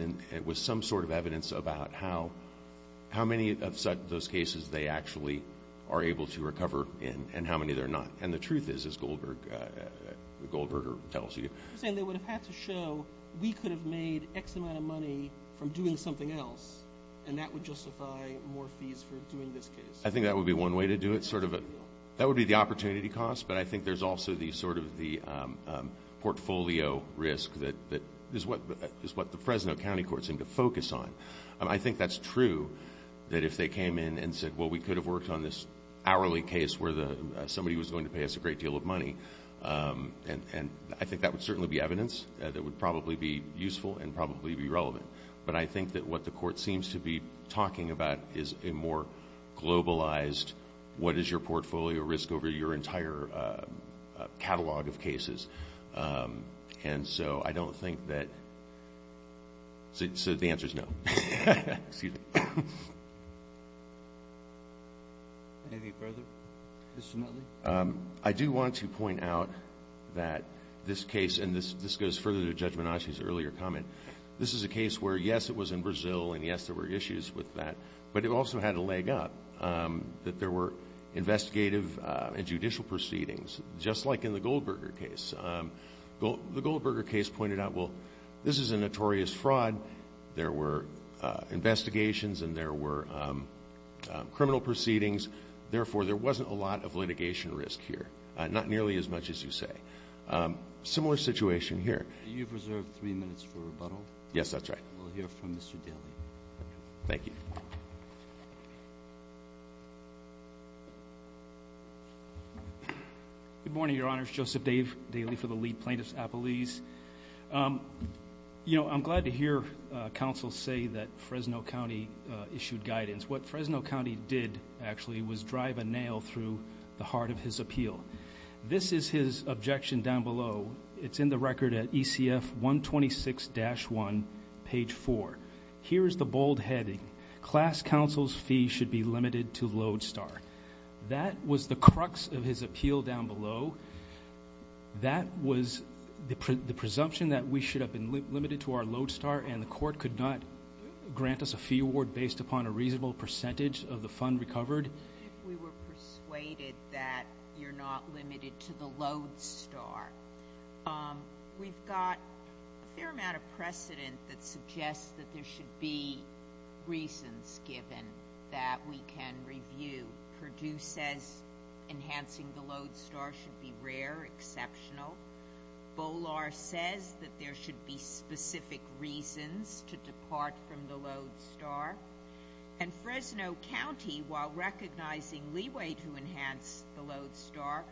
And it was some sort of evidence about how, how many of those cases they actually are able to recover, and how many they're not. And the truth is, as Goldberger tells you- You're saying they would've had to show we could've made X amount of money from doing something else, and that would justify more fees for doing this case? I think that would be one way to do it, sort of a... That would be the opportunity cost, but I think there's also the, sort of the portfolio risk is what the Fresno County Courts seem to focus on. And I think that's true, that if they came in and said, well, we could've worked on this hourly case where somebody was going to pay us a great deal of money, and I think that would certainly be evidence that would probably be useful and probably be relevant. But I think that what the court seems to be talking about is a more globalized, what is your portfolio risk over your entire catalog of cases? And so I don't think that... So the answer's no. Excuse me. Anything further? Mr. Motley? I do want to point out that this case, and this goes further to Judge Menache's earlier comment, this is a case where, yes, it was in Brazil, and yes, there were issues with that, but it also had a leg up, that there were investigative and judicial proceedings, just like in the Goldberger case. The Goldberger case pointed out, well, this is a notorious fraud. There were investigations, and there were criminal proceedings. Therefore, there wasn't a lot of litigation risk here, not nearly as much as you say. Similar situation here. You've reserved three minutes for rebuttal. Yes, that's right. We'll hear from Mr. Daley. Thank you. Good morning, Your Honors. Joseph Dave Daley for the League of Plaintiffs Appellees. I'm glad to hear counsel say that Fresno County issued guidance. What Fresno County did, actually, was drive a nail through the heart of his appeal. This is his objection down below. It's in the record at ECF 126-1, page four. Here's the bold heading. Class counsel's fee should be limited to Lodestar. That was the crux of his appeal down below. That was the presumption that we should have been limited to our Lodestar, and the court could not grant us a fee award based upon a reasonable percentage of the fund recovered. If we were persuaded that you're not limited to the Lodestar, we've got a fair amount of precedent that suggests that there should be reasons given that we can review. Purdue says enhancing the Lodestar should be rare, exceptional. Bolar says that there should be specific reasons to depart from the Lodestar. And Fresno County, while recognizing leeway to enhance the Lodestar,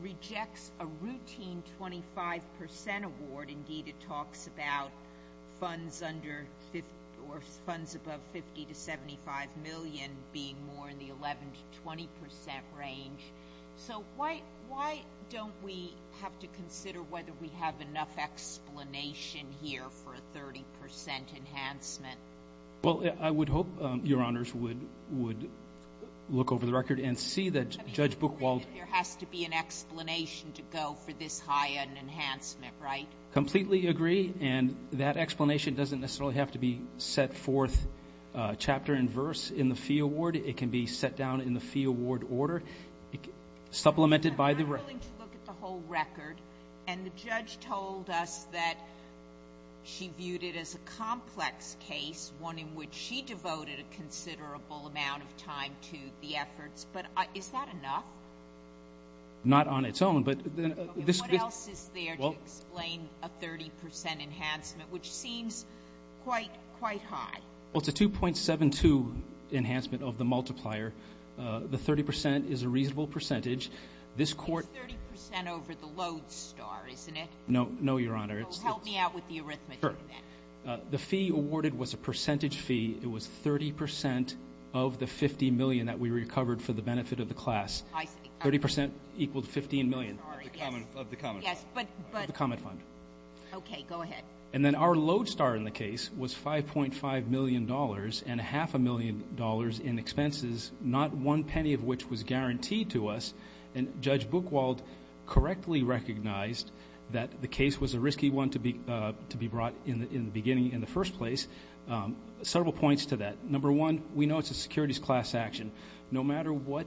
rejects a routine 25% award. Indeed, it talks about funds under, or funds above 50 to 75 million being more in the 11 to 20% range. So why don't we have to consider whether we have enough explanation here for a 30% enhancement? Well, I would hope, Your Honors, would look over the record and see that Judge Buchwald. There has to be an explanation to go for this high an enhancement, right? Completely agree, and that explanation doesn't necessarily have to be set forth chapter and verse in the fee award. It can be set down in the fee award order. Supplemented by the record. I'm willing to look at the whole record. And the judge told us that she viewed it as a complex case, one in which she devoted a considerable amount of time to the efforts, but is that enough? Not on its own, but then this. What else is there to explain a 30% enhancement, which seems quite high? Well, it's a 2.72 enhancement of the multiplier. The 30% is a reasonable percentage. This court- It's 30% over the Lowe's star, isn't it? No, no, Your Honor. It's- So help me out with the arithmetic. Sure. The fee awarded was a percentage fee. It was 30% of the 50 million that we recovered for the benefit of the class. 30% equaled 15 million. Sorry, yes. Of the common fund. Yes, but- Of the common fund. Okay, go ahead. And then our Lowe's star in the case was $5.5 million and a half a million dollars in expenses, not one penny of which was guaranteed to us. And Judge Buchwald correctly recognized that the case was a risky one to be brought in the beginning, in the first place. Several points to that. Number one, we know it's a securities class action. No matter what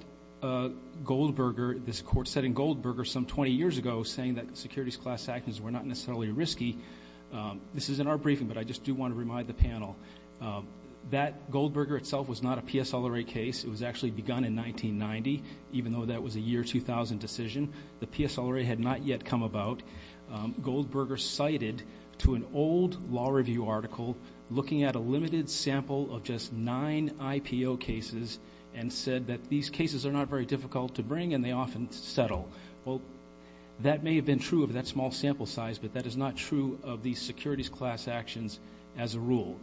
Goldberger, this court said in Goldberger some 20 years ago, saying that securities class actions were not necessarily risky. This is in our briefing, but I just do want to remind the panel that Goldberger itself was not a PSLRA case. It was actually begun in 1990, even though that was a year 2000 decision. The PSLRA had not yet come about. Goldberger cited to an old law review article looking at a limited sample of just nine IPO cases and said that these cases are not very difficult to bring and they often settle. Well, that may have been true of that small sample size, but that is not true of these securities class actions as a rule.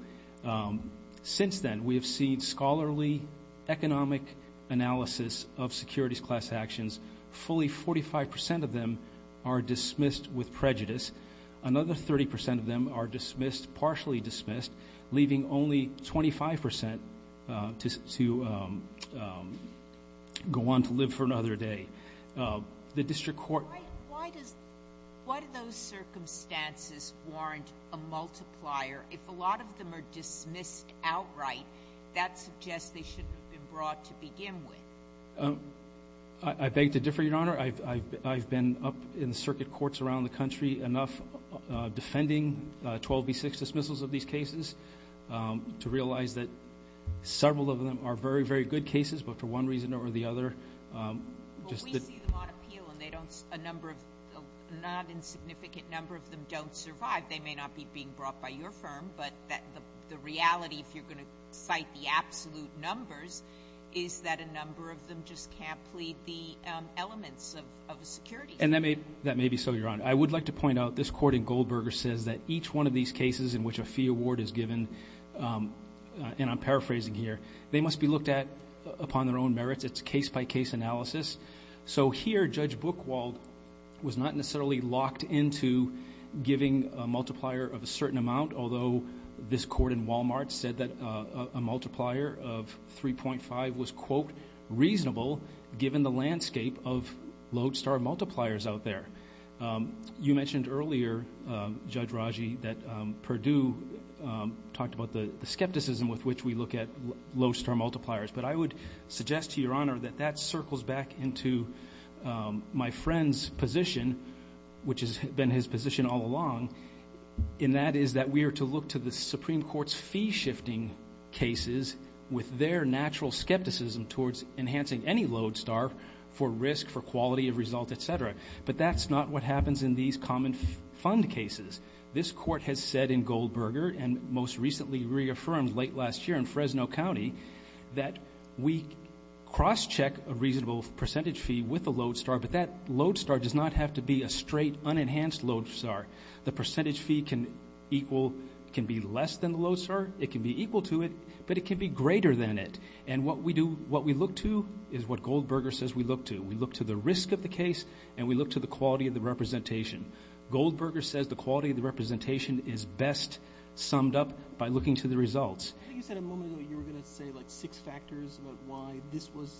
Since then, we have seen scholarly economic analysis of securities class actions. Fully 45% of them are dismissed with prejudice. Another 30% of them are dismissed, partially dismissed, leaving only 25% to go on to live for another day. The district court- Why do those circumstances warrant a multiplier if a lot of them are dismissed outright? That suggests they shouldn't have been brought to begin with. I beg to differ, Your Honor. I've been up in circuit courts around the country enough defending 12B6 dismissals of these cases to realize that several of them are very, very good cases, but for one reason or the other, just that- A number of, not insignificant number of them don't survive. They may not be being brought by your firm, but the reality, if you're gonna cite the absolute numbers, is that a number of them just can't plead the elements of a securities case. That may be so, Your Honor. I would like to point out this court in Goldberger says that each one of these cases in which a fee award is given, and I'm paraphrasing here, they must be looked at upon their own merits. It's case-by-case analysis. So here, Judge Buchwald was not necessarily locked into giving a multiplier of a certain amount, although this court in Walmart said that a multiplier of 3.5 was, quote, reasonable given the landscape of lodestar multipliers out there. You mentioned earlier, Judge Raji, that Perdue talked about the skepticism with which we look at lodestar multipliers, but I would suggest to Your Honor that that circles back into my friend's position, which has been his position all along, and that is that we are to look to the Supreme Court's fee-shifting cases with their natural skepticism towards enhancing any lodestar for risk, for quality of result, et cetera, but that's not what happens in these common fund cases. This court has said in Goldberger, and most recently reaffirmed late last year in Fresno County, that we cross-check a reasonable percentage fee with a lodestar, but that lodestar does not have to be a straight, unenhanced lodestar. The percentage fee can be less than the lodestar, it can be equal to it, but it can be greater than it, and what we look to is what Goldberger says we look to. We look to the risk of the case, and we look to the quality of the representation. Goldberger says the quality of the representation is best summed up by looking to the results. I think you said a moment ago you were gonna say like six factors about why this was,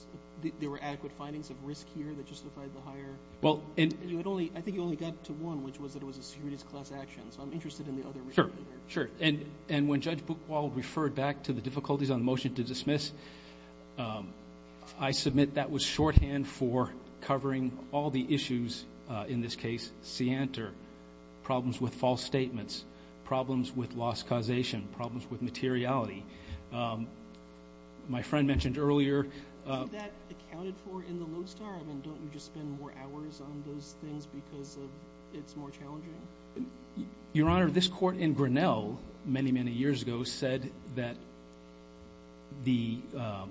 there were adequate findings of risk here that justified the hire. Well, and. You had only, I think you only got to one, which was that it was a securities class action, so I'm interested in the other. Sure, sure, and when Judge Buchwald referred back to the difficulties on the motion to dismiss, I submit that was shorthand for covering all the issues, in this case, scienter, problems with false statements, problems with loss causation, problems with materiality. My friend mentioned earlier. Is that accounted for in the lodestar? I mean, don't you just spend more hours on those things because it's more challenging? Your Honor, this court in Grinnell, many, many years ago, said that the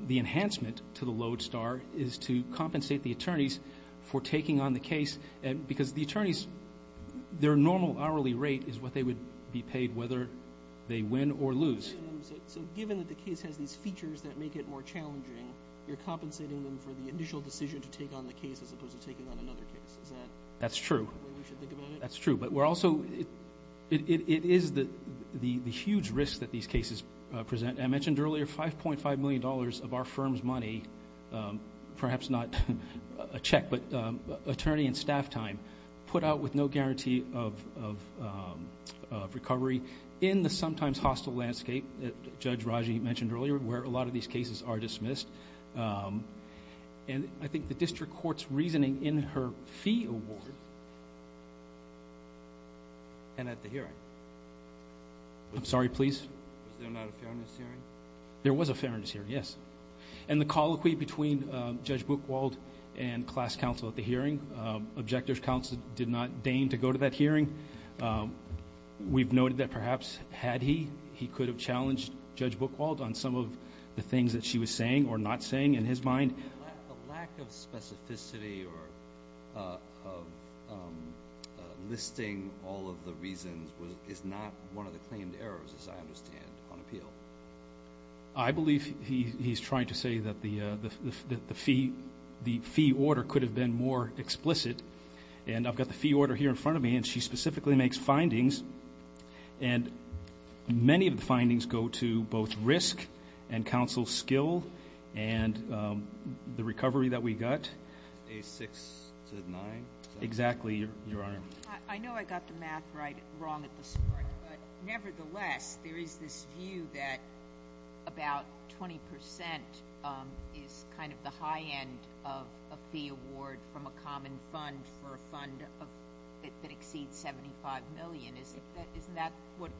enhancement to the lodestar is to compensate the attorneys for taking on the case, because the attorneys, their normal hourly rate is what they would be paid whether they win or lose. So given that the case has these features that make it more challenging, you're compensating them for the initial decision to take on the case as opposed to taking on another case. Is that? That's true. The way we should think about it? That's true, but we're also, it is the huge risk that these cases present. I mentioned earlier, $5.5 million of our firm's money, perhaps not a check, but attorney and staff time, put out with no guarantee of recovery in the sometimes hostile landscape that Judge Raji mentioned earlier, where a lot of these cases are dismissed. And I think the district court's reasoning in her fee award. And at the hearing. I'm sorry, please. Was there not a fairness hearing? There was a fairness hearing, yes. And the colloquy between Judge Buchwald and class counsel at the hearing, objector's counsel did not deign to go to that hearing. We've noted that perhaps had he, he could have challenged Judge Buchwald on some of the things that she was saying or not saying in his mind. A lack of specificity or of listing all of the reasons is not one of the claimed errors, as I understand, on appeal. I believe he's trying to say that the fee order could have been more explicit. And I've got the fee order here in front of me, and she specifically makes findings. And many of the findings go to both risk and counsel skill and the recovery that we got. A six to nine? Exactly, Your Honor. I know I got the math right, wrong at this point, but nevertheless, there is this view that about 20% is kind of the high end of a fee award from a common fund for a fund that exceeds 75 million. Isn't that what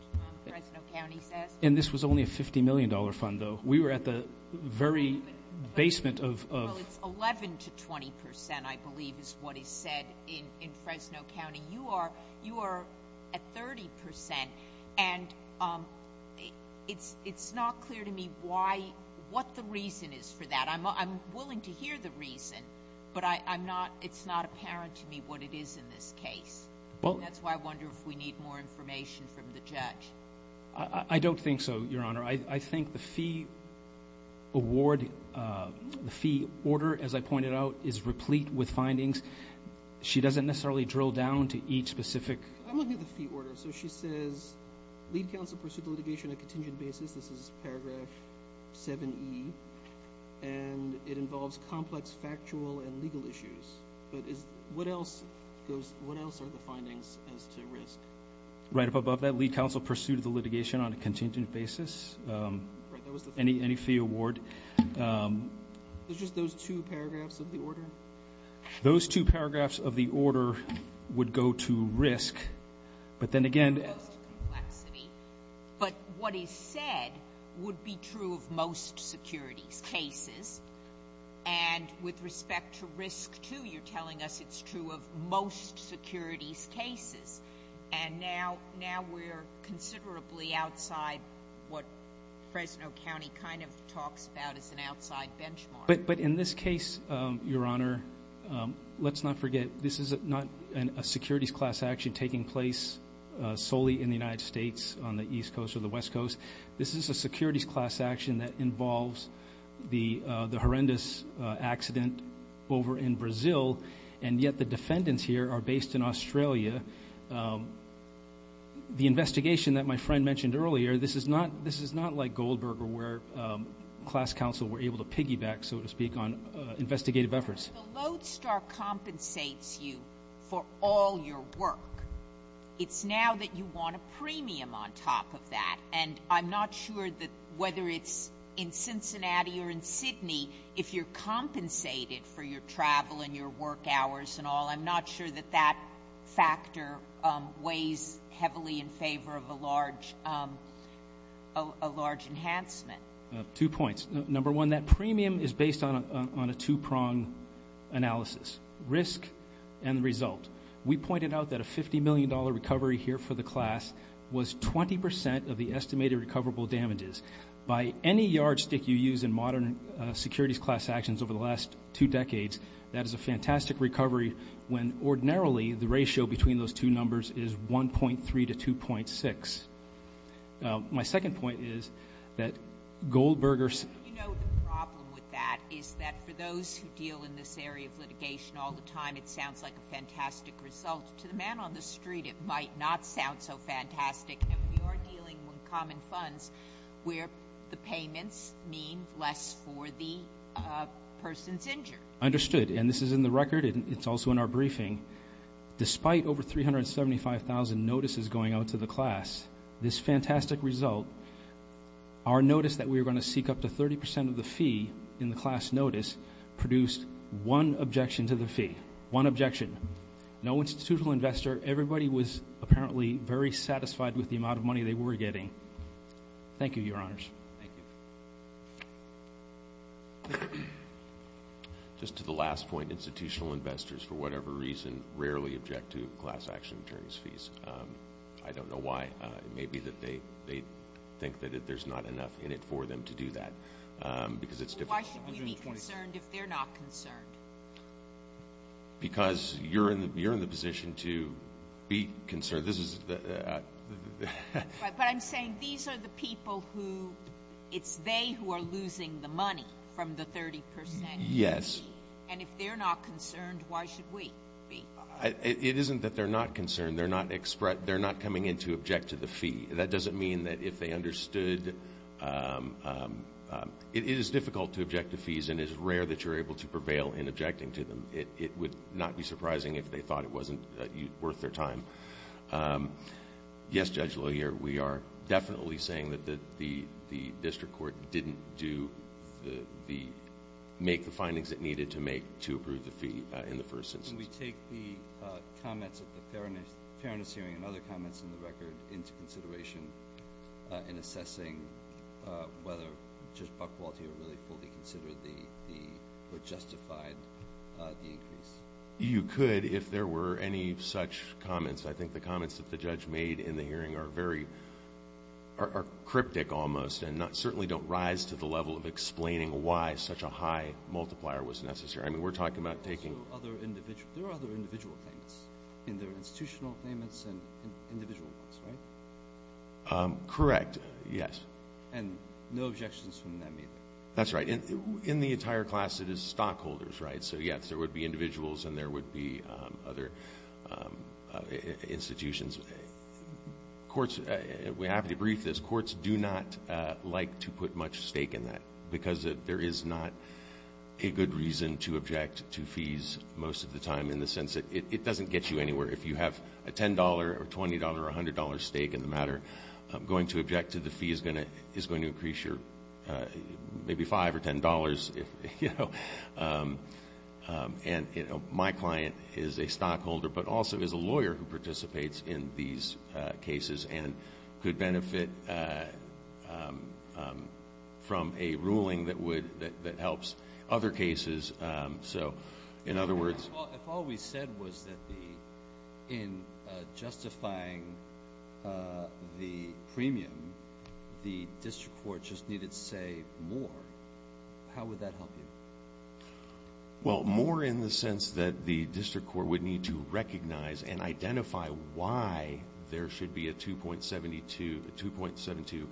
Fresno County says? And this was only a $50 million fund, though. We were at the very basement of- Well, it's 11 to 20%, I believe, is what is said in Fresno County. You are at 30%. And it's not clear to me why, what the reason is for that. I'm willing to hear the reason, but it's not apparent to me what it is in this case. That's why I wonder if we need more information from the judge. I don't think so, Your Honor. I think the fee award, the fee order, as I pointed out, is replete with findings. She doesn't necessarily drill down to each specific- I'm looking at the fee order. So she says, lead counsel pursued litigation on a contingent basis. This is paragraph 7E. And it involves complex factual and legal issues. But what else are the findings as to risk? Right up above that, lead counsel pursued the litigation on a contingent basis. Any fee award. It's just those two paragraphs of the order? Those two paragraphs of the order would go to risk. But then again- It's just complexity. But what is said would be true of most securities cases. And with respect to risk too, you're telling us it's true of most securities cases. And now we're considerably outside what Fresno County kind of talks about as an outside benchmark. But in this case, Your Honor, let's not forget, this is not a securities class action taking place solely in the United States on the East Coast or the West Coast. This is a securities class action that involves the horrendous accident over in Brazil. And yet the defendants here are based in Australia. The investigation that my friend mentioned earlier, this is not like Goldberg or where class counsel were able to piggyback, so to speak, on investigative efforts. If the Lodestar compensates you for all your work, it's now that you want a premium on top of that. And I'm not sure that whether it's in Cincinnati or in Sydney, if you're compensated for your travel and your work hours and all, I'm not sure that that factor weighs heavily in favor of a large enhancement. Two points. Number one, that premium is based on a two-prong analysis, risk and the result. We pointed out that a $50 million recovery here for the class was 20% of the estimated recoverable damages. By any yardstick you use in modern securities class actions over the last two decades, that is a fantastic recovery when ordinarily the ratio between those two numbers is 1.3 to 2.6. My second point is that Goldbergers... You know the problem with that is that for those who deal in this area of litigation all the time, it sounds like a fantastic result. To the man on the street, it might not sound so fantastic. And we are dealing with common funds where the payments mean less for the person's injured. Understood, and this is in the record and it's also in our briefing. Despite over 375,000 notices going out to the class, this fantastic result, our notice that we were gonna seek up to 30% of the fee in the class notice produced one objection to the fee, one objection. No institutional investor, everybody was apparently very satisfied with the amount of money they were getting. Thank you, your honors. Just to the last point, institutional investors, for whatever reason, rarely object to class action attorney's fees. I don't know why. It may be that they think that there's not enough in it for them to do that because it's difficult. Why should we be concerned if they're not concerned? Because you're in the position to be concerned. But I'm saying these are the people who, it's they who are losing the money from the 30%. Yes. And if they're not concerned, why should we be? It isn't that they're not concerned, they're not coming in to object to the fee. That doesn't mean that if they understood, it is difficult to object to fees and it's rare that you're able to prevail in objecting to them. It would not be surprising if they thought it wasn't worth their time. Yes, Judge LaHier, we are definitely saying that the district court didn't make the findings it needed to make to approve the fee in the first instance. Can we take the comments at the Fairness Hearing and other comments in the record into consideration in assessing whether Judge Buchwald here really fully considered or justified the increase? You could if there were any such comments. I think the comments that the judge made in the hearing are very, are cryptic almost and certainly don't rise to the level of explaining why such a high multiplier was necessary. I mean, we're talking about taking. Other individual, there are other individual things in their institutional claimants and individual ones, right? Correct, yes. And no objections from them either? That's right. In the entire class, it is stockholders, right? So yes, there would be individuals and there would be other institutions. Courts, we have to debrief this, courts do not like to put much stake in that because there is not a good reason to object to fees most of the time in the sense that it doesn't get you anywhere. If you have a $10 or $20 or $100 stake in the matter, going to object to the fee is going to increase your maybe five or $10, you know? And my client is a stockholder, but also is a lawyer who participates in these cases and could benefit from a ruling that would, that helps other cases. So in other words- If all we said was that the, in justifying the premium, the district court just needed to say more, how would that help you? Well, more in the sense that the district court would need to recognize and identify why there should be a 2.72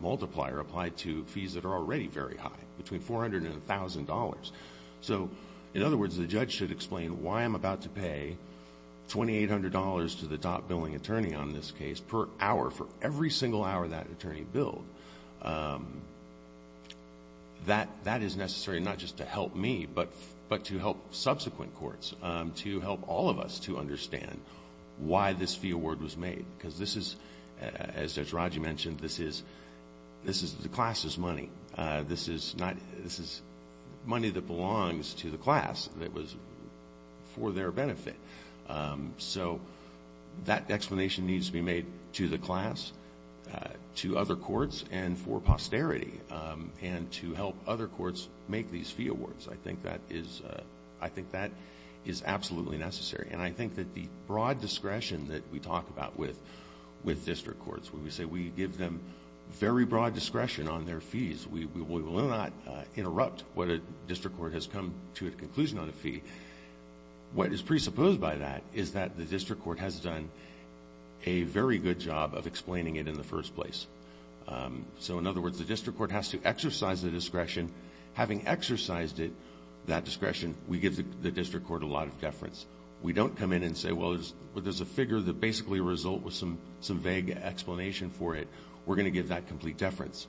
multiplier applied to fees that are already very high, between $400 and $1,000. So in other words, the judge should explain why I'm about to pay $2,800 to the top billing attorney on this case per hour for every single hour that attorney billed. That is necessary not just to help me, but to help subsequent courts, to help all of us to understand why this fee award was made. Because this is, as Judge Raju mentioned, this is the class's money. This is not, this is money that belongs to the class that was for their benefit. So that explanation needs to be made to the class, to other courts, and for posterity, and to help other courts make these fee awards. I think that is, I think that is absolutely necessary. And I think that the broad discretion that we talk about with district courts, when we say we give them very broad discretion on their fees, we will not interrupt what a district court has come to a conclusion on a fee. What is presupposed by that is that the district court has done a very good job of explaining it in the first place. So in other words, the district court has to exercise the discretion, having exercised it, that discretion, we give the district court a lot of deference. We don't come in and say, well, there's a figure that basically result with some vague explanation for it. We're gonna give that complete deference.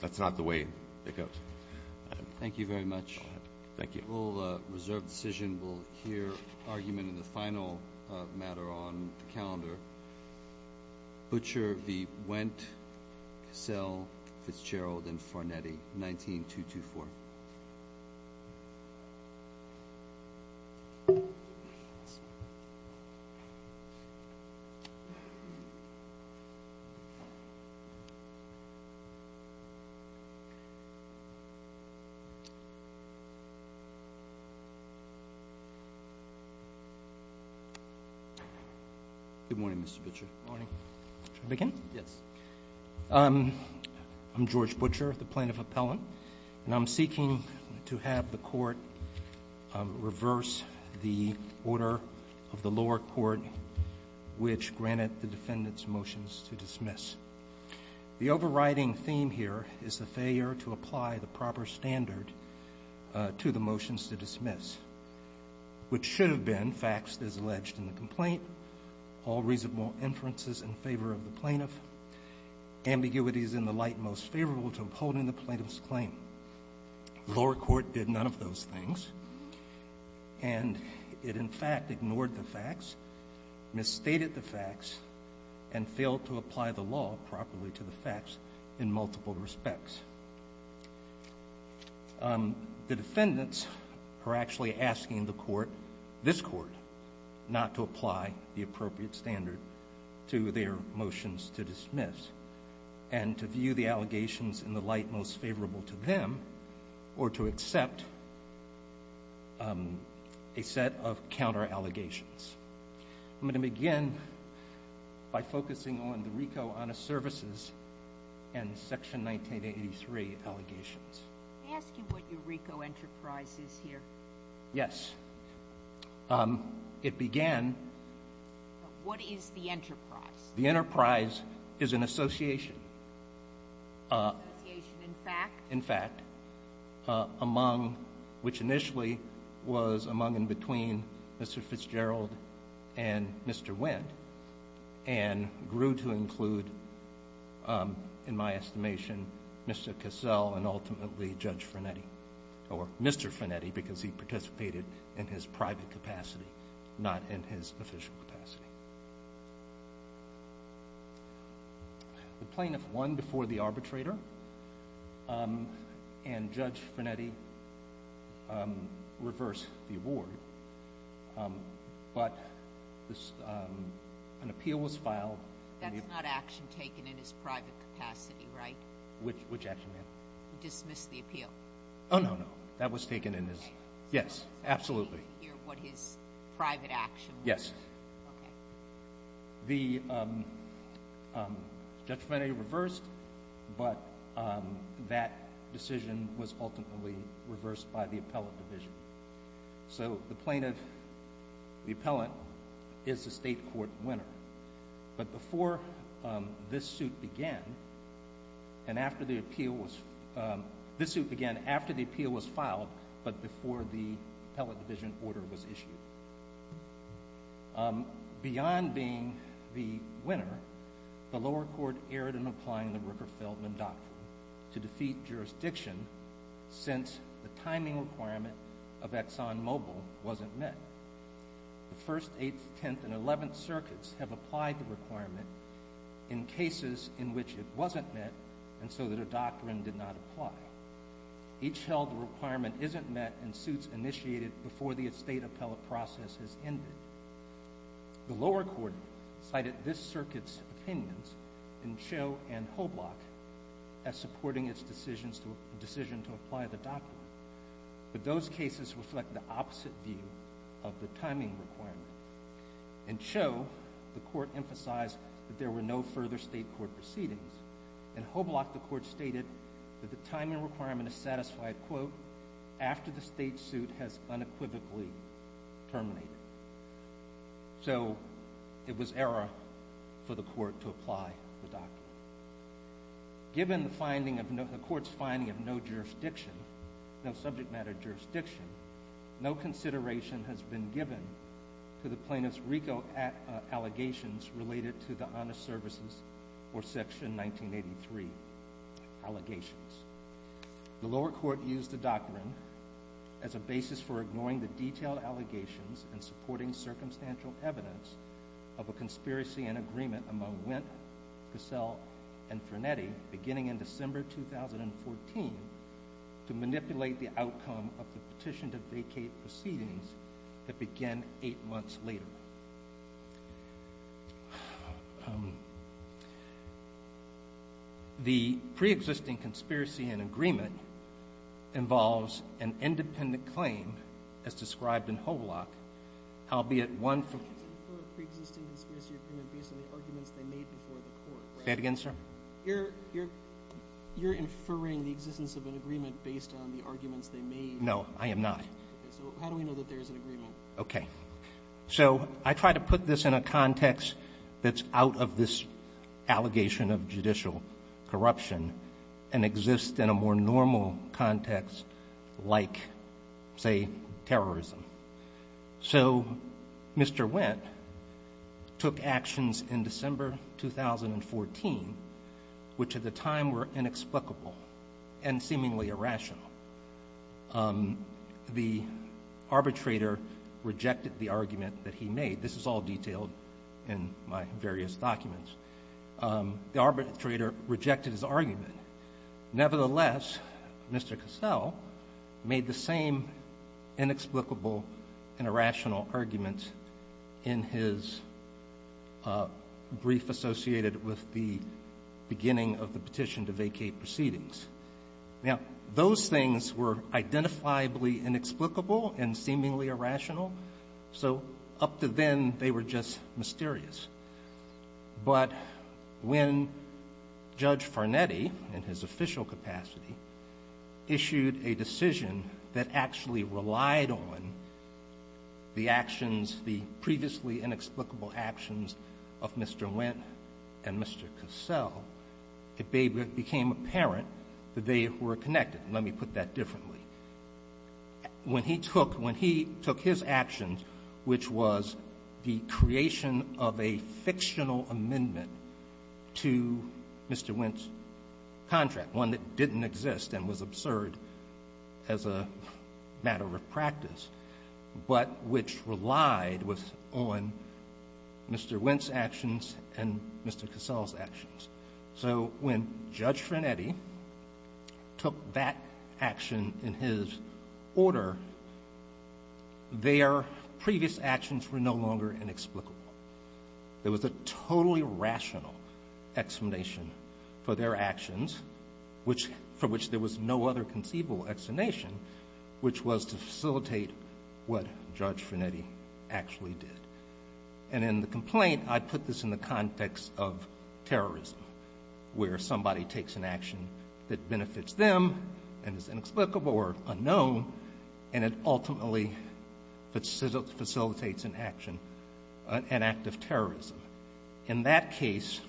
That's not the way it goes. Thank you very much. Thank you. We'll reserve decision, we'll hear argument in the final matter on the calendar. Butcher v. Wendt, Cassell, Fitzgerald and Farnetti, 19-224. Thank you. Good morning, Mr. Butcher. Morning. Should I begin? Yes. I'm George Butcher, the plaintiff appellant. And I'm seeking to have the court reverse the order of the lower court, which granted the defendant's motions to dismiss. The overriding theme here is the failure to apply the proper standard to the motions to dismiss, which should have been faxed as alleged in the complaint, all reasonable inferences in favor of the plaintiff, ambiguities in the light most favorable to upholding the plaintiff's claim. The lower court did none of those things. And it in fact ignored the fax, misstated the fax and failed to apply the law properly to the fax in multiple respects. The defendants are actually asking the court, this court, not to apply the appropriate standard to their motions to dismiss and to view the allegations in the light most favorable to them, or to accept a set of counter allegations. I'm gonna begin by focusing on the RICO Honest Services and Section 1983 allegations. May I ask you what your RICO enterprise is here? Yes. It began... What is the enterprise? The enterprise is an association. Association, in fact? In fact, among, which initially was among and between Mr. Fitzgerald and Mr. Wendt, and grew to include, in my estimation, Mr. Cassell and ultimately Judge Finetti, or Mr. Finetti, because he participated in his private capacity, not in his official capacity. The plaintiff won before the arbitrator, and Judge Finetti reversed the award, but an appeal was filed. That's not action taken in his private capacity, right? Which action, ma'am? Dismissed the appeal. Oh, no, no, that was taken in his, yes, absolutely. You hear what his private action was? Yes. Okay. The Judge Finetti reversed, but that decision was ultimately reversed by the appellate division. So the plaintiff, the appellant, is the state court winner. But before this suit began, and after the appeal was, this suit began after the appeal was filed, but before the appellate division order was issued. Beyond being the winner, the lower court erred in applying the Rooker-Feldman Doctrine to defeat jurisdiction since the timing requirement of ExxonMobil wasn't met. The First, Eighth, Tenth, and Eleventh Circuits have applied the requirement in cases in which it wasn't met, and so that a doctrine did not apply. Each held the requirement isn't met and suits initiated before the state appellate process has ended. The lower court cited this circuit's opinions in Cho and Hoblock as supporting its decision to apply the doctrine. But those cases reflect the opposite view of the timing requirement. In Cho, the court emphasized that there were no further state court proceedings. In Hoblock, the court stated that the timing requirement is satisfied, quote, after the state suit has unequivocally terminated. So it was error for the court to apply the doctrine. Given the court's finding of no jurisdiction, no subject matter jurisdiction, no consideration has been given to the plaintiff's RICO allegations related to the Honest Services or Section 1983 allegations. The lower court used the doctrine as a basis for ignoring the detailed allegations and supporting circumstantial evidence of a conspiracy and agreement among Wendt, Cassell, and Frenetti beginning in December 2014 to manipulate the outcome of the petition to vacate proceedings that began eight months later. The pre-existing conspiracy and agreement involves an independent claim as described in Hoblock, albeit one from... Can you infer a pre-existing conspiracy and agreement based on the arguments they made before the court? Say it again, sir? You're inferring the existence of an agreement based on the arguments they made... No, I am not. Okay. So how do we know that there is an agreement? Okay. So I try to put this in a context that's out of this allegation of judicial corruption and exists in a more normal context like, say, terrorism. So Mr. Wendt took actions in December 2014, which at the time were inexplicable and seemingly irrational. Um, the arbitrator rejected the argument that he made. This is all detailed in my various documents. Um, the arbitrator rejected his argument. Nevertheless, Mr. Cassell made the same inexplicable and irrational argument in his, uh, brief associated with the beginning of the petition to vacate proceedings. Now, those things were identifiably inexplicable and seemingly irrational, so up to then, they were just mysterious. But when Judge Farnetti, in his official capacity, issued a decision that actually relied on the actions, the previously inexplicable actions of Mr. Wendt and Mr. Cassell, it became apparent that they were connected. Let me put that differently. When he took his actions, which was the creation of a fictional amendment to Mr. Wendt's contract, one that didn't exist and was absurd as a matter of practice, but which relied on Mr. Wendt's actions and Mr. Cassell's actions. So when Judge Farnetti took that action in his order, their previous actions were no longer inexplicable. There was a totally rational explanation for their actions, for which there was no other conceivable explanation, which was to facilitate what Judge Farnetti actually did. And in the complaint, I put this in the context of terrorism, where somebody takes an action that benefits them and is inexplicable or unknown, and it ultimately facilitates an action, an act of terrorism. In that case,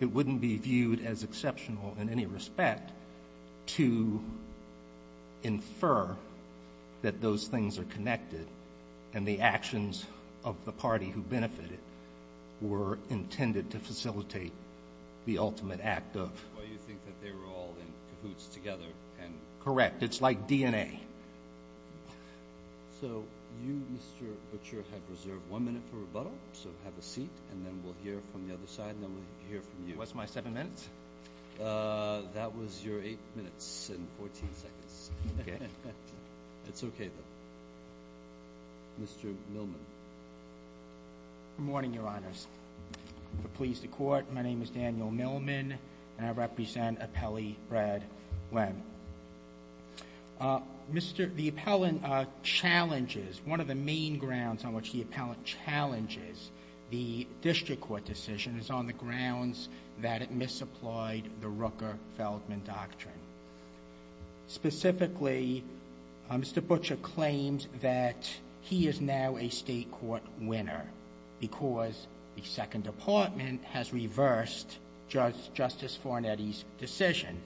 it wouldn't be viewed as exceptional in any respect to infer that those things are connected and the actions of the party who benefited were intended to facilitate the ultimate act of... Why do you think that they were all in cahoots together? Correct. It's like DNA. So you, Mr. Butcher, have reserved one minute for rebuttal, so have a seat, and then we'll hear from the other side, and then we'll hear from you. What's my seven minutes? That was your eight minutes and 14 seconds. Okay. It's okay, though. Mr. Millman. Good morning, Your Honors. If it pleases the Court, my name is Daniel Millman, and I represent Appellee Brad Webb. Mr. The appellant challenges... One of the main grounds on which the appellant challenges the district court decision is on the grounds that it misapplied the Rooker-Feldman doctrine. Specifically, Mr. Butcher claims that he is now a state court winner because the Second Department has reversed Justice Fornetti's decision.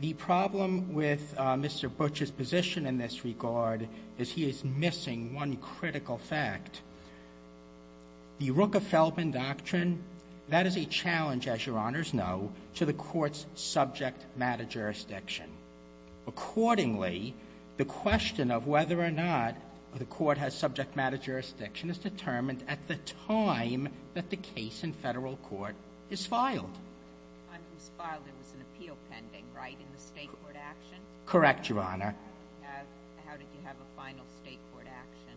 The problem with Mr. Butcher's position in this regard is he is missing one critical fact. The Rooker-Feldman doctrine, that is a challenge, as Your Honors know, to the court's subject-matter jurisdiction. Accordingly, the question of whether or not the court has subject-matter jurisdiction is determined at the time that the case in federal court is filed. When it was filed, it was an appeal pending, right, in the state court action? Correct, Your Honor. How did you have a final state court action?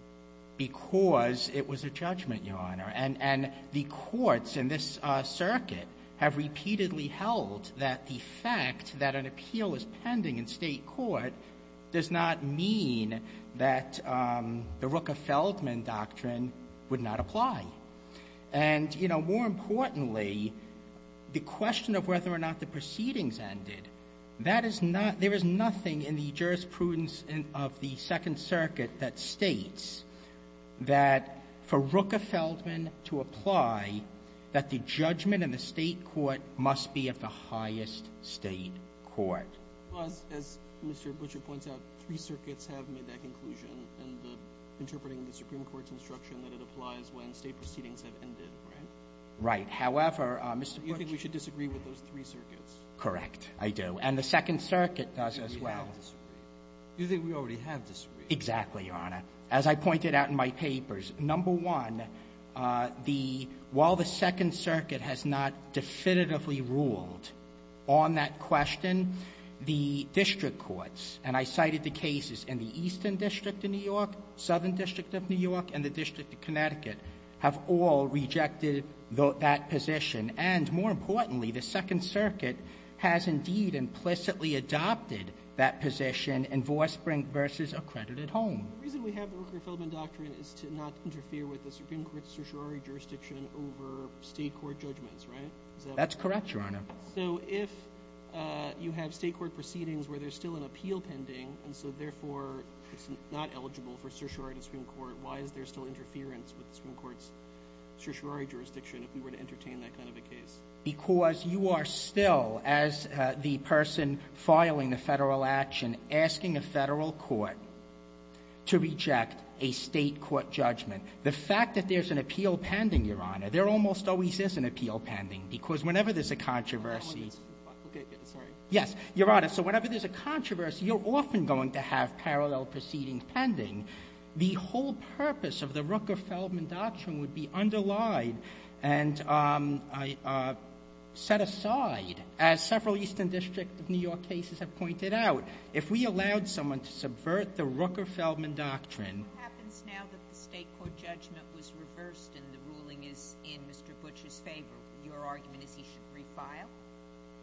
Because it was a judgment, Your Honor, and the courts in this circuit have repeatedly held that the fact that an appeal is pending in state court does not mean that the Rooker-Feldman doctrine would not apply. And, you know, more importantly, the question of whether or not the proceedings ended, that is not... There is nothing in the jurisprudence of the Second Circuit that states that for Rooker-Feldman to apply that the judgment in the state court must be of the highest state court. As Mr. Butcher points out, three circuits have made that conclusion in interpreting the Supreme Court's instruction that it applies when state proceedings have ended, right? Right. However, Mr. Butcher... You think we should disagree with those three circuits? Correct, I do. And the Second Circuit does as well. You think we already have disagreed? Exactly, Your Honor. As I pointed out in my papers, number one, the... While the Second Circuit has not definitively ruled on that question, the district courts, and I cited the cases in the Eastern District of New York, Southern District of New York, and the District of Connecticut, have all rejected that position. And more importantly, the Second Circuit has indeed implicitly adopted that position in Vospring v. Accredited Home. The reason we have the Rooker-Feldman doctrine is to not interfere with the Supreme Court's certiorari jurisdiction over state court judgments, right? That's correct, Your Honor. So if you have state court proceedings where there's still an appeal pending, and so therefore it's not eligible for certiorari in the Supreme Court, why is there still interference with the Supreme Court's certiorari jurisdiction if we were to entertain that kind of a case? Because you are still, as the person filing the federal action, asking a federal court to reject a state court judgment. The fact that there's an appeal pending, Your Honor, there almost always is an appeal pending, because whenever there's a controversy... Okay, sorry. Yes, Your Honor, so whenever there's a controversy, you're often going to have parallel proceedings pending. The whole purpose of the Rooker-Feldman doctrine would be underlied and, um, uh, set aside. As several Eastern District of New York cases have pointed out, if we allowed someone to subvert the Rooker-Feldman doctrine... What happens now that the state court judgment was reversed and the ruling is in Mr. Butch's favor? Your argument is he should refile?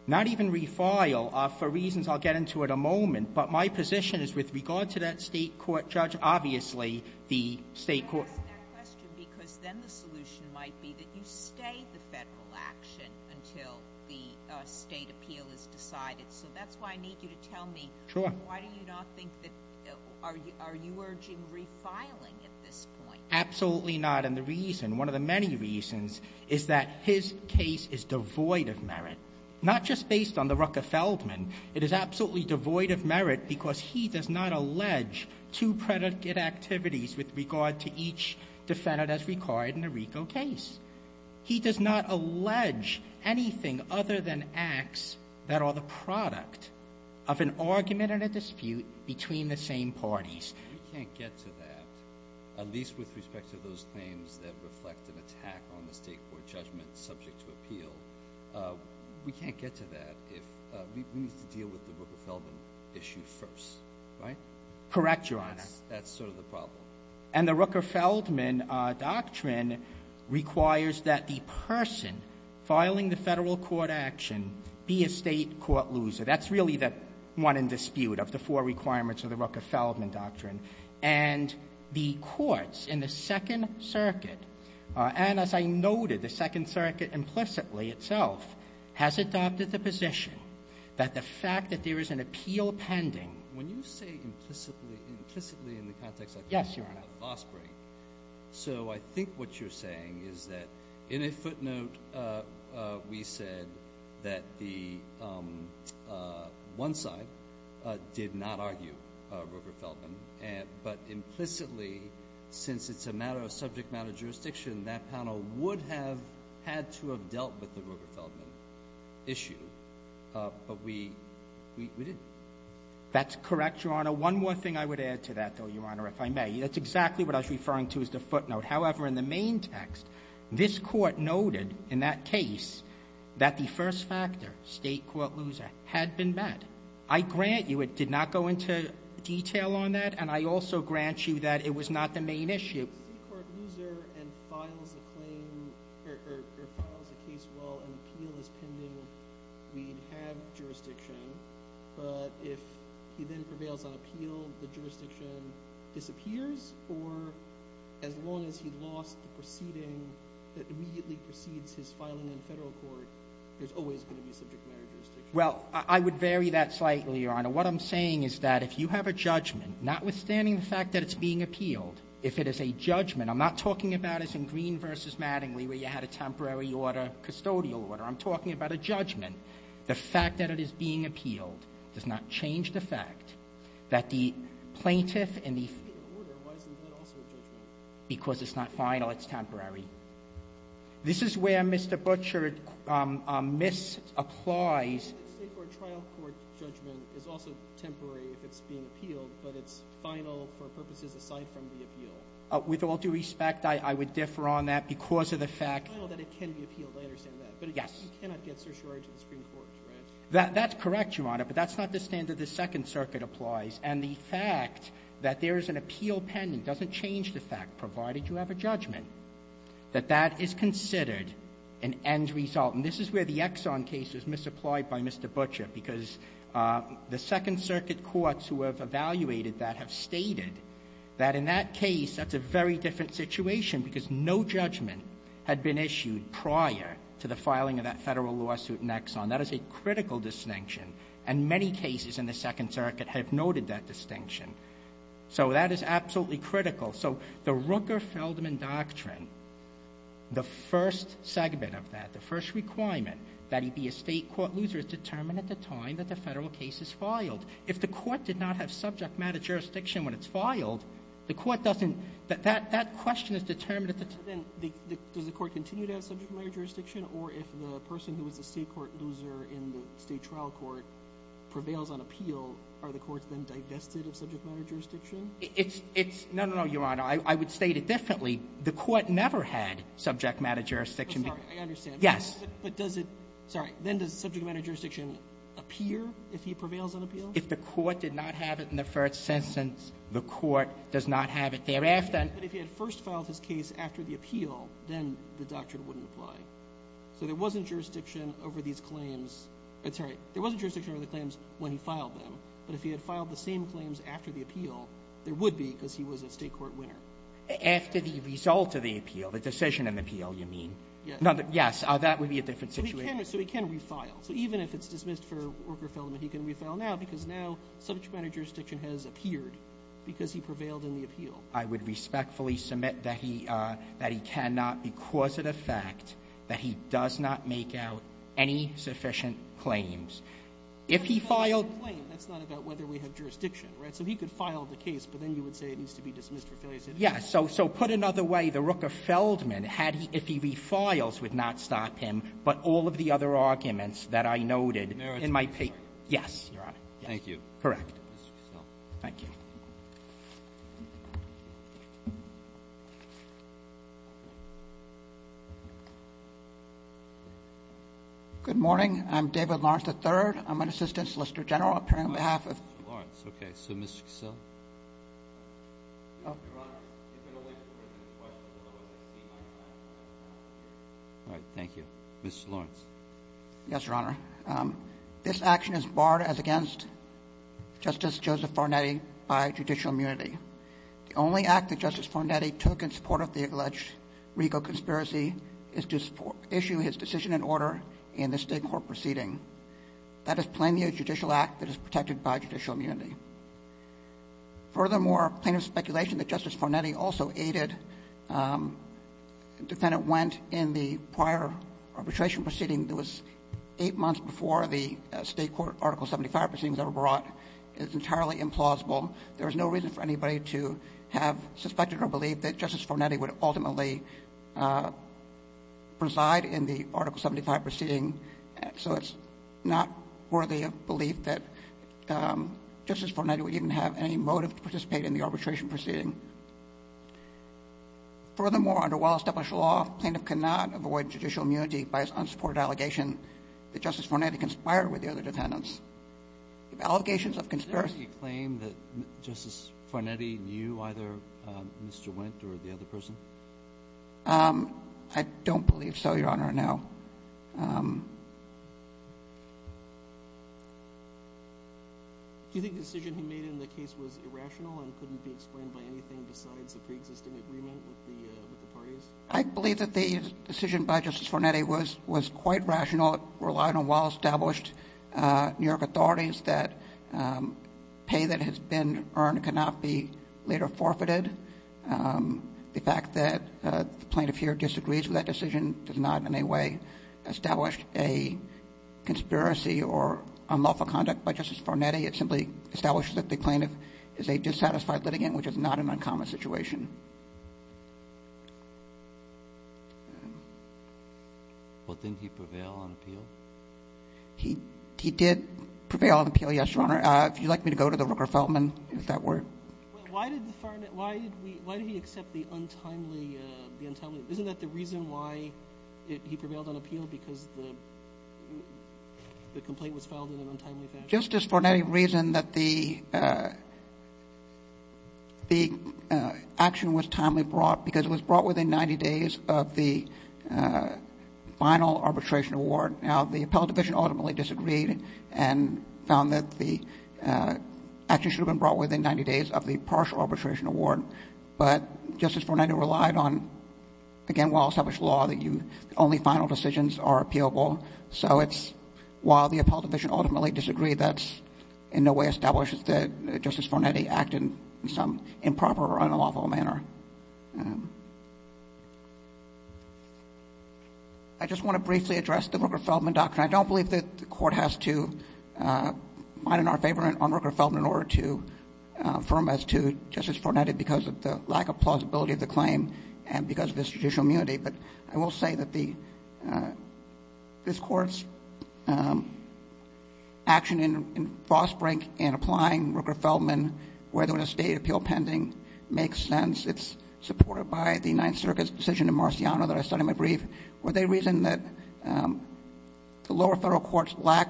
Not even refile. Uh, for reasons I'll get into in a moment, but my position is with regard to that state court judge, obviously the state court... I ask that question because then the solution might be that you stay the federal action until the, uh, state appeal is decided. So that's why I need you to tell me... Sure. Why do you not think that... Are you urging refiling at this point? Absolutely not, and the reason, one of the many reasons, is that his case is devoid of merit. Not just based on the Rooker-Feldman, it is absolutely devoid of merit because he does not allege two predicate activities with regard to each defendant as required in a RICO case. He does not allege anything other than acts that are the product of an argument and a dispute between the same parties. We can't get to that, at least with respect to those claims that reflect an attack on the state court judgment subject to appeal. Uh, we can't get to that if, uh, we need to deal with the Rooker-Feldman issue first. Right? Correct, Your Honor. That's sort of the problem. And the Rooker-Feldman, uh, doctrine requires that the person filing the federal court action be a state court loser. That's really the one in dispute of the four requirements of the Rooker-Feldman doctrine. And the courts in the Second Circuit, uh, and as I noted, the Second Circuit implicitly itself has adopted the position that the fact that there is an appeal pending... When you say implicitly, implicitly in the context of Yes, Your Honor. Fosbury, so I think what you're saying is that in a footnote, uh, uh, we said that the, um, uh, one side did not argue, uh, Rooker-Feldman and, but implicitly since it's a matter of subject matter jurisdiction, that panel would have had to have dealt with the Rooker-Feldman issue. Uh, but we, we didn't. That's correct, Your Honor. One more thing I would add to that though, Your Honor, if I may. That's exactly what I was referring to as the footnote. However, in the main text, this court noted in that case that the first factor, state court loser, had been met. I grant you it did not go into detail on that and I also grant you that it was not the main issue. If the state court loser and files a claim, or, or, or files a case while an appeal is pending we'd have jurisdiction but if he then prevails on appeal the jurisdiction disappears or as long as he lost the proceeding that immediately precedes his filing in federal court there's always going to be subject matter jurisdiction. Well, I would vary that slightly, Your Honor. What I'm saying is that if you have a judgment, notwithstanding the fact that it's being appealed, if it is a judgment I'm not talking about as in Green v. Mattingly where you had a temporary order custodial order. I'm talking about a judgment. The fact that it is being appealed does not change the fact that the plaintiff and the... That's temporary. This is where Mr. Butcher misapplies The state court trial court judgment is also temporary if it's being appealed but it's final for purposes aside from the appeal. With all due respect, I would differ on that because of the fact... Yes. You cannot get certiorari to the Supreme Court, right? That's correct, Your Honor, but that's not the standard the Second Circuit applies and the fact that there is an appeal pending doesn't change the fact, provided you have a judgment that that is considered an end result. And this is where the Exxon case is misapplied by Mr. Butcher because the Second Circuit courts who have evaluated that have stated that in that case, that's a very different situation because no judgment had been issued prior to the filing of that Federal lawsuit in Exxon. That is a critical distinction and many cases in the Second Circuit have noted that distinction. So that is absolutely critical. So the Rooker-Feldman doctrine, the first segment of that, the first requirement that he be a state court loser is determined at the time that the federal case is filed. If the court did not have subject matter jurisdiction when it's filed the court doesn't... That question is determined at the time... Does the court continue to have subject matter jurisdiction or if the person who is a state court loser in the state trial court prevails on appeal are the courts then divested of subject matter jurisdiction? No, no, no, Your Honor. I would state it differently. The court never had subject matter jurisdiction. I understand. Yes. But does it, sorry, then does subject matter jurisdiction appear if he prevails on appeal? If the court did not have it in the first sentence, the court does not have it thereafter. But if he had first filed his case after the appeal then the doctrine wouldn't apply. So there wasn't jurisdiction over these claims, sorry, there wasn't But if he had filed the same claims after the appeal there would be because he was a state court winner. After the result of the appeal, the decision of the appeal, you mean? Yes. Yes, that would be a different situation. So he can refile. So even if it's dismissed for worker felony he can refile now because now subject matter jurisdiction has appeared because he prevailed on the appeal. I would respectfully submit that he cannot because of the fact that he does not make out any sufficient claims. If he filed That's not about whether we have jurisdiction, right? So he could file the case but then you would say it needs to be dismissed for failure. Yes. So put another way, the Rooker-Feldman if he refiles would not stop him but all of the other arguments that I noted in my paper. Yes, Your Honor. Thank you. Correct. Thank you. Good morning. I'm David Lawrence III. I'm an Assistant Solicitor General appearing on behalf of Mr. Lawrence. Okay. So Ms. Cassel? Your Honor, if you're going to wait for the questions as long as I see my hand All right. Thank you. Mr. Lawrence. Justice Joseph Fornetti by the U.S. Supreme Court and the U.S. Supreme Court is protected by judicial immunity. The only act that Justice Fornetti took in support of the alleged Rigo conspiracy is to issue his decision and order in the state court proceeding. That is plainly a judicial act that is protected by judicial immunity. Furthermore, plaintiff's speculation that Justice Fornetti also aided defendant Wendt in the prior arbitration proceeding that was eight months before the state court article 75 proceeding was ever brought is entirely implausible. There is no reason for anybody to have suspected or believed that Justice Fornetti would ultimately preside in the article 75 proceeding. So it's not worthy of belief that Justice Fornetti would even have any motive to participate in the arbitration proceeding. Furthermore, under well established law, plaintiff cannot avoid judicial immunity by his unsupported allegation that Justice Fornetti conspired with the other defendants. Allegations of conspiracy Do you claim that Justice Fornetti knew either Mr. Wendt or the other person? I don't believe so, Your Honor, no. Do you think the decision he made in the case was irrational and couldn't be explained by anything besides the pre-existing agreement with the parties? I believe that the decision by Justice Fornetti was quite rational and relied on well established New York authorities that pay that has been earned cannot be later forfeited. The fact that the plaintiff here disagrees with that decision does not in any way establish a conspiracy or unlawful conduct by Justice Fornetti. It simply establishes that the plaintiff is a dissatisfied litigant, which is not an uncommon situation. Well, didn't he prevail on appeal? He did prevail on appeal, yes, Your Honor. If you'd like me to go to the Rooker-Feldman, is that where... Why did he accept the untimely... Isn't that the reason why he prevailed on appeal? Because the complaint was filed in an untimely fashion? Justice Fornetti reasoned that the the actual action was timely brought because it was brought within 90 days of the final arbitration award. Now, the appellate division ultimately disagreed and found that the action should have been brought within 90 days of the partial arbitration award. But Justice Fornetti relied on, again, well established law that only final decisions are appealable. So it's while the appellate division ultimately disagreed, that's in no way established that Justice Fornetti acted in some improper or unlawful manner. I just want to briefly address the Rooker-Feldman doctrine. I don't believe that the court has to mine in our favor on Rooker-Feldman in order to affirm as to Justice Fornetti because of the lack of plausibility of the claim and because of his judicial immunity. But I will say that the this court's action in Frostbrink and applying Rooker-Feldman whether in a state appeal pending makes sense. It's supported by the Ninth Circuit's decision in Marciano that I studied in my brief, where they reason that the lower federal courts lack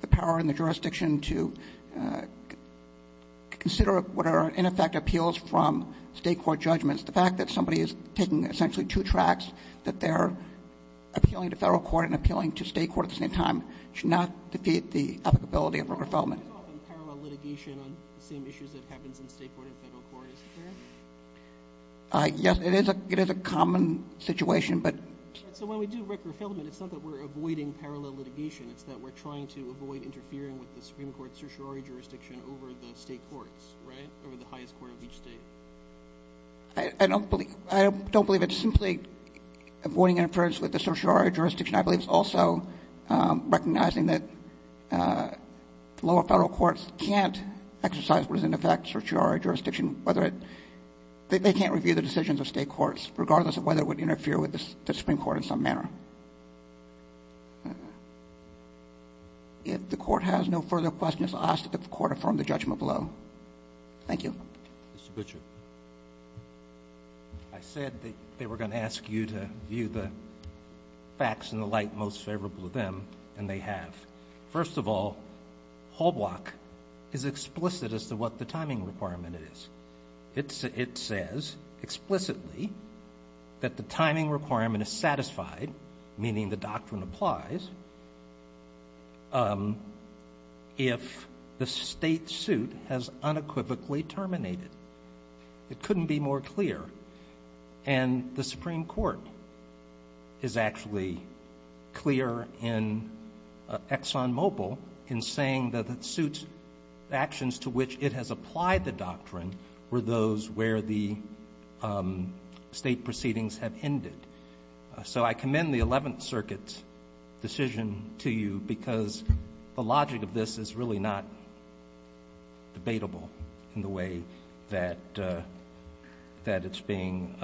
the power in the jurisdiction to consider what are in effect appeals from state court judgments. The fact that somebody is taking essentially two tracks, that they're appealing to federal court and appealing to state court at the same time, should not defeat the applicability of Rooker-Feldman. Yes, it is a common situation, but So when we do Rooker-Feldman, it's not that we're avoiding parallel litigation. It's that we're trying to avoid interfering with the Supreme Court's certiorari jurisdiction over the state courts, right? Over the highest court of each state. I don't believe it's simply avoiding interference with the certiorari jurisdiction. I believe it's also recognizing that lower federal courts can't exercise what is in effect, certiorari jurisdiction, whether it, they can't review the decisions of state courts, regardless of whether it would interfere with the Supreme Court in some manner. If the court has no further questions, I'll ask that the court affirm the judgment below. Thank you. Mr. Butcher. I said that they were going to ask you to view the facts in the light most favorable to them, and they have. First of all, whole block is explicit as to what the timing requirement is. It says explicitly that the timing requirement is satisfied, meaning the doctrine applies, if the state suit has unequivocally terminated. It couldn't be more clear. And the Supreme Court is actually clear in ExxonMobil in saying that the suit actions to which it has applied the doctrine were those where the state proceedings have ended. So I commend the Eleventh Circuit decision to you because the logic of this is really not debatable in the way that it's being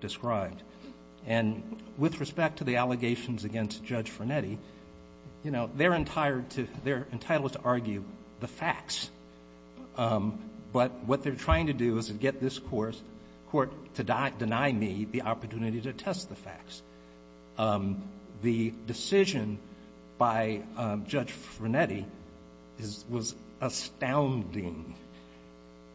described. And with respect to the allegations against Judge Frenetti, you know, they're entitled to argue the facts. But what they're trying to do is get this court to deny me the opportunity to test the facts. The decision by Judge Frenetti was astounding.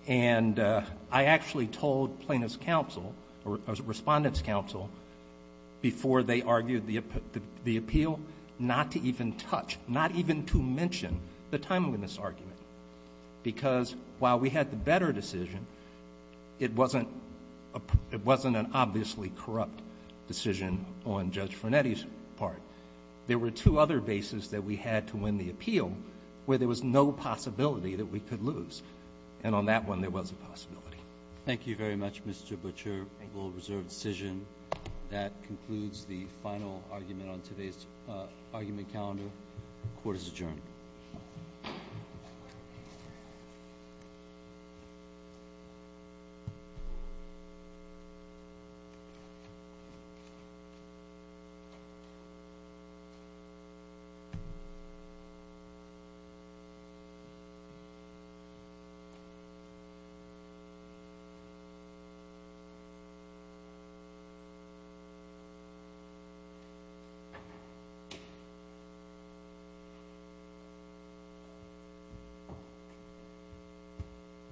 And I actually told Plaintiff's counsel, or Respondent's counsel, before they argued the appeal, not to even touch, not even to mention the timeliness argument. Because while we had the better decision, it wasn't an obviously corrupt decision on Judge Frenetti's part. There were two other bases that we had to win the appeal where there was no possibility that we could lose. And on that one, there was a mature, well-reserved decision. That concludes the final argument on today's argument calendar. Court is adjourned. Thank you.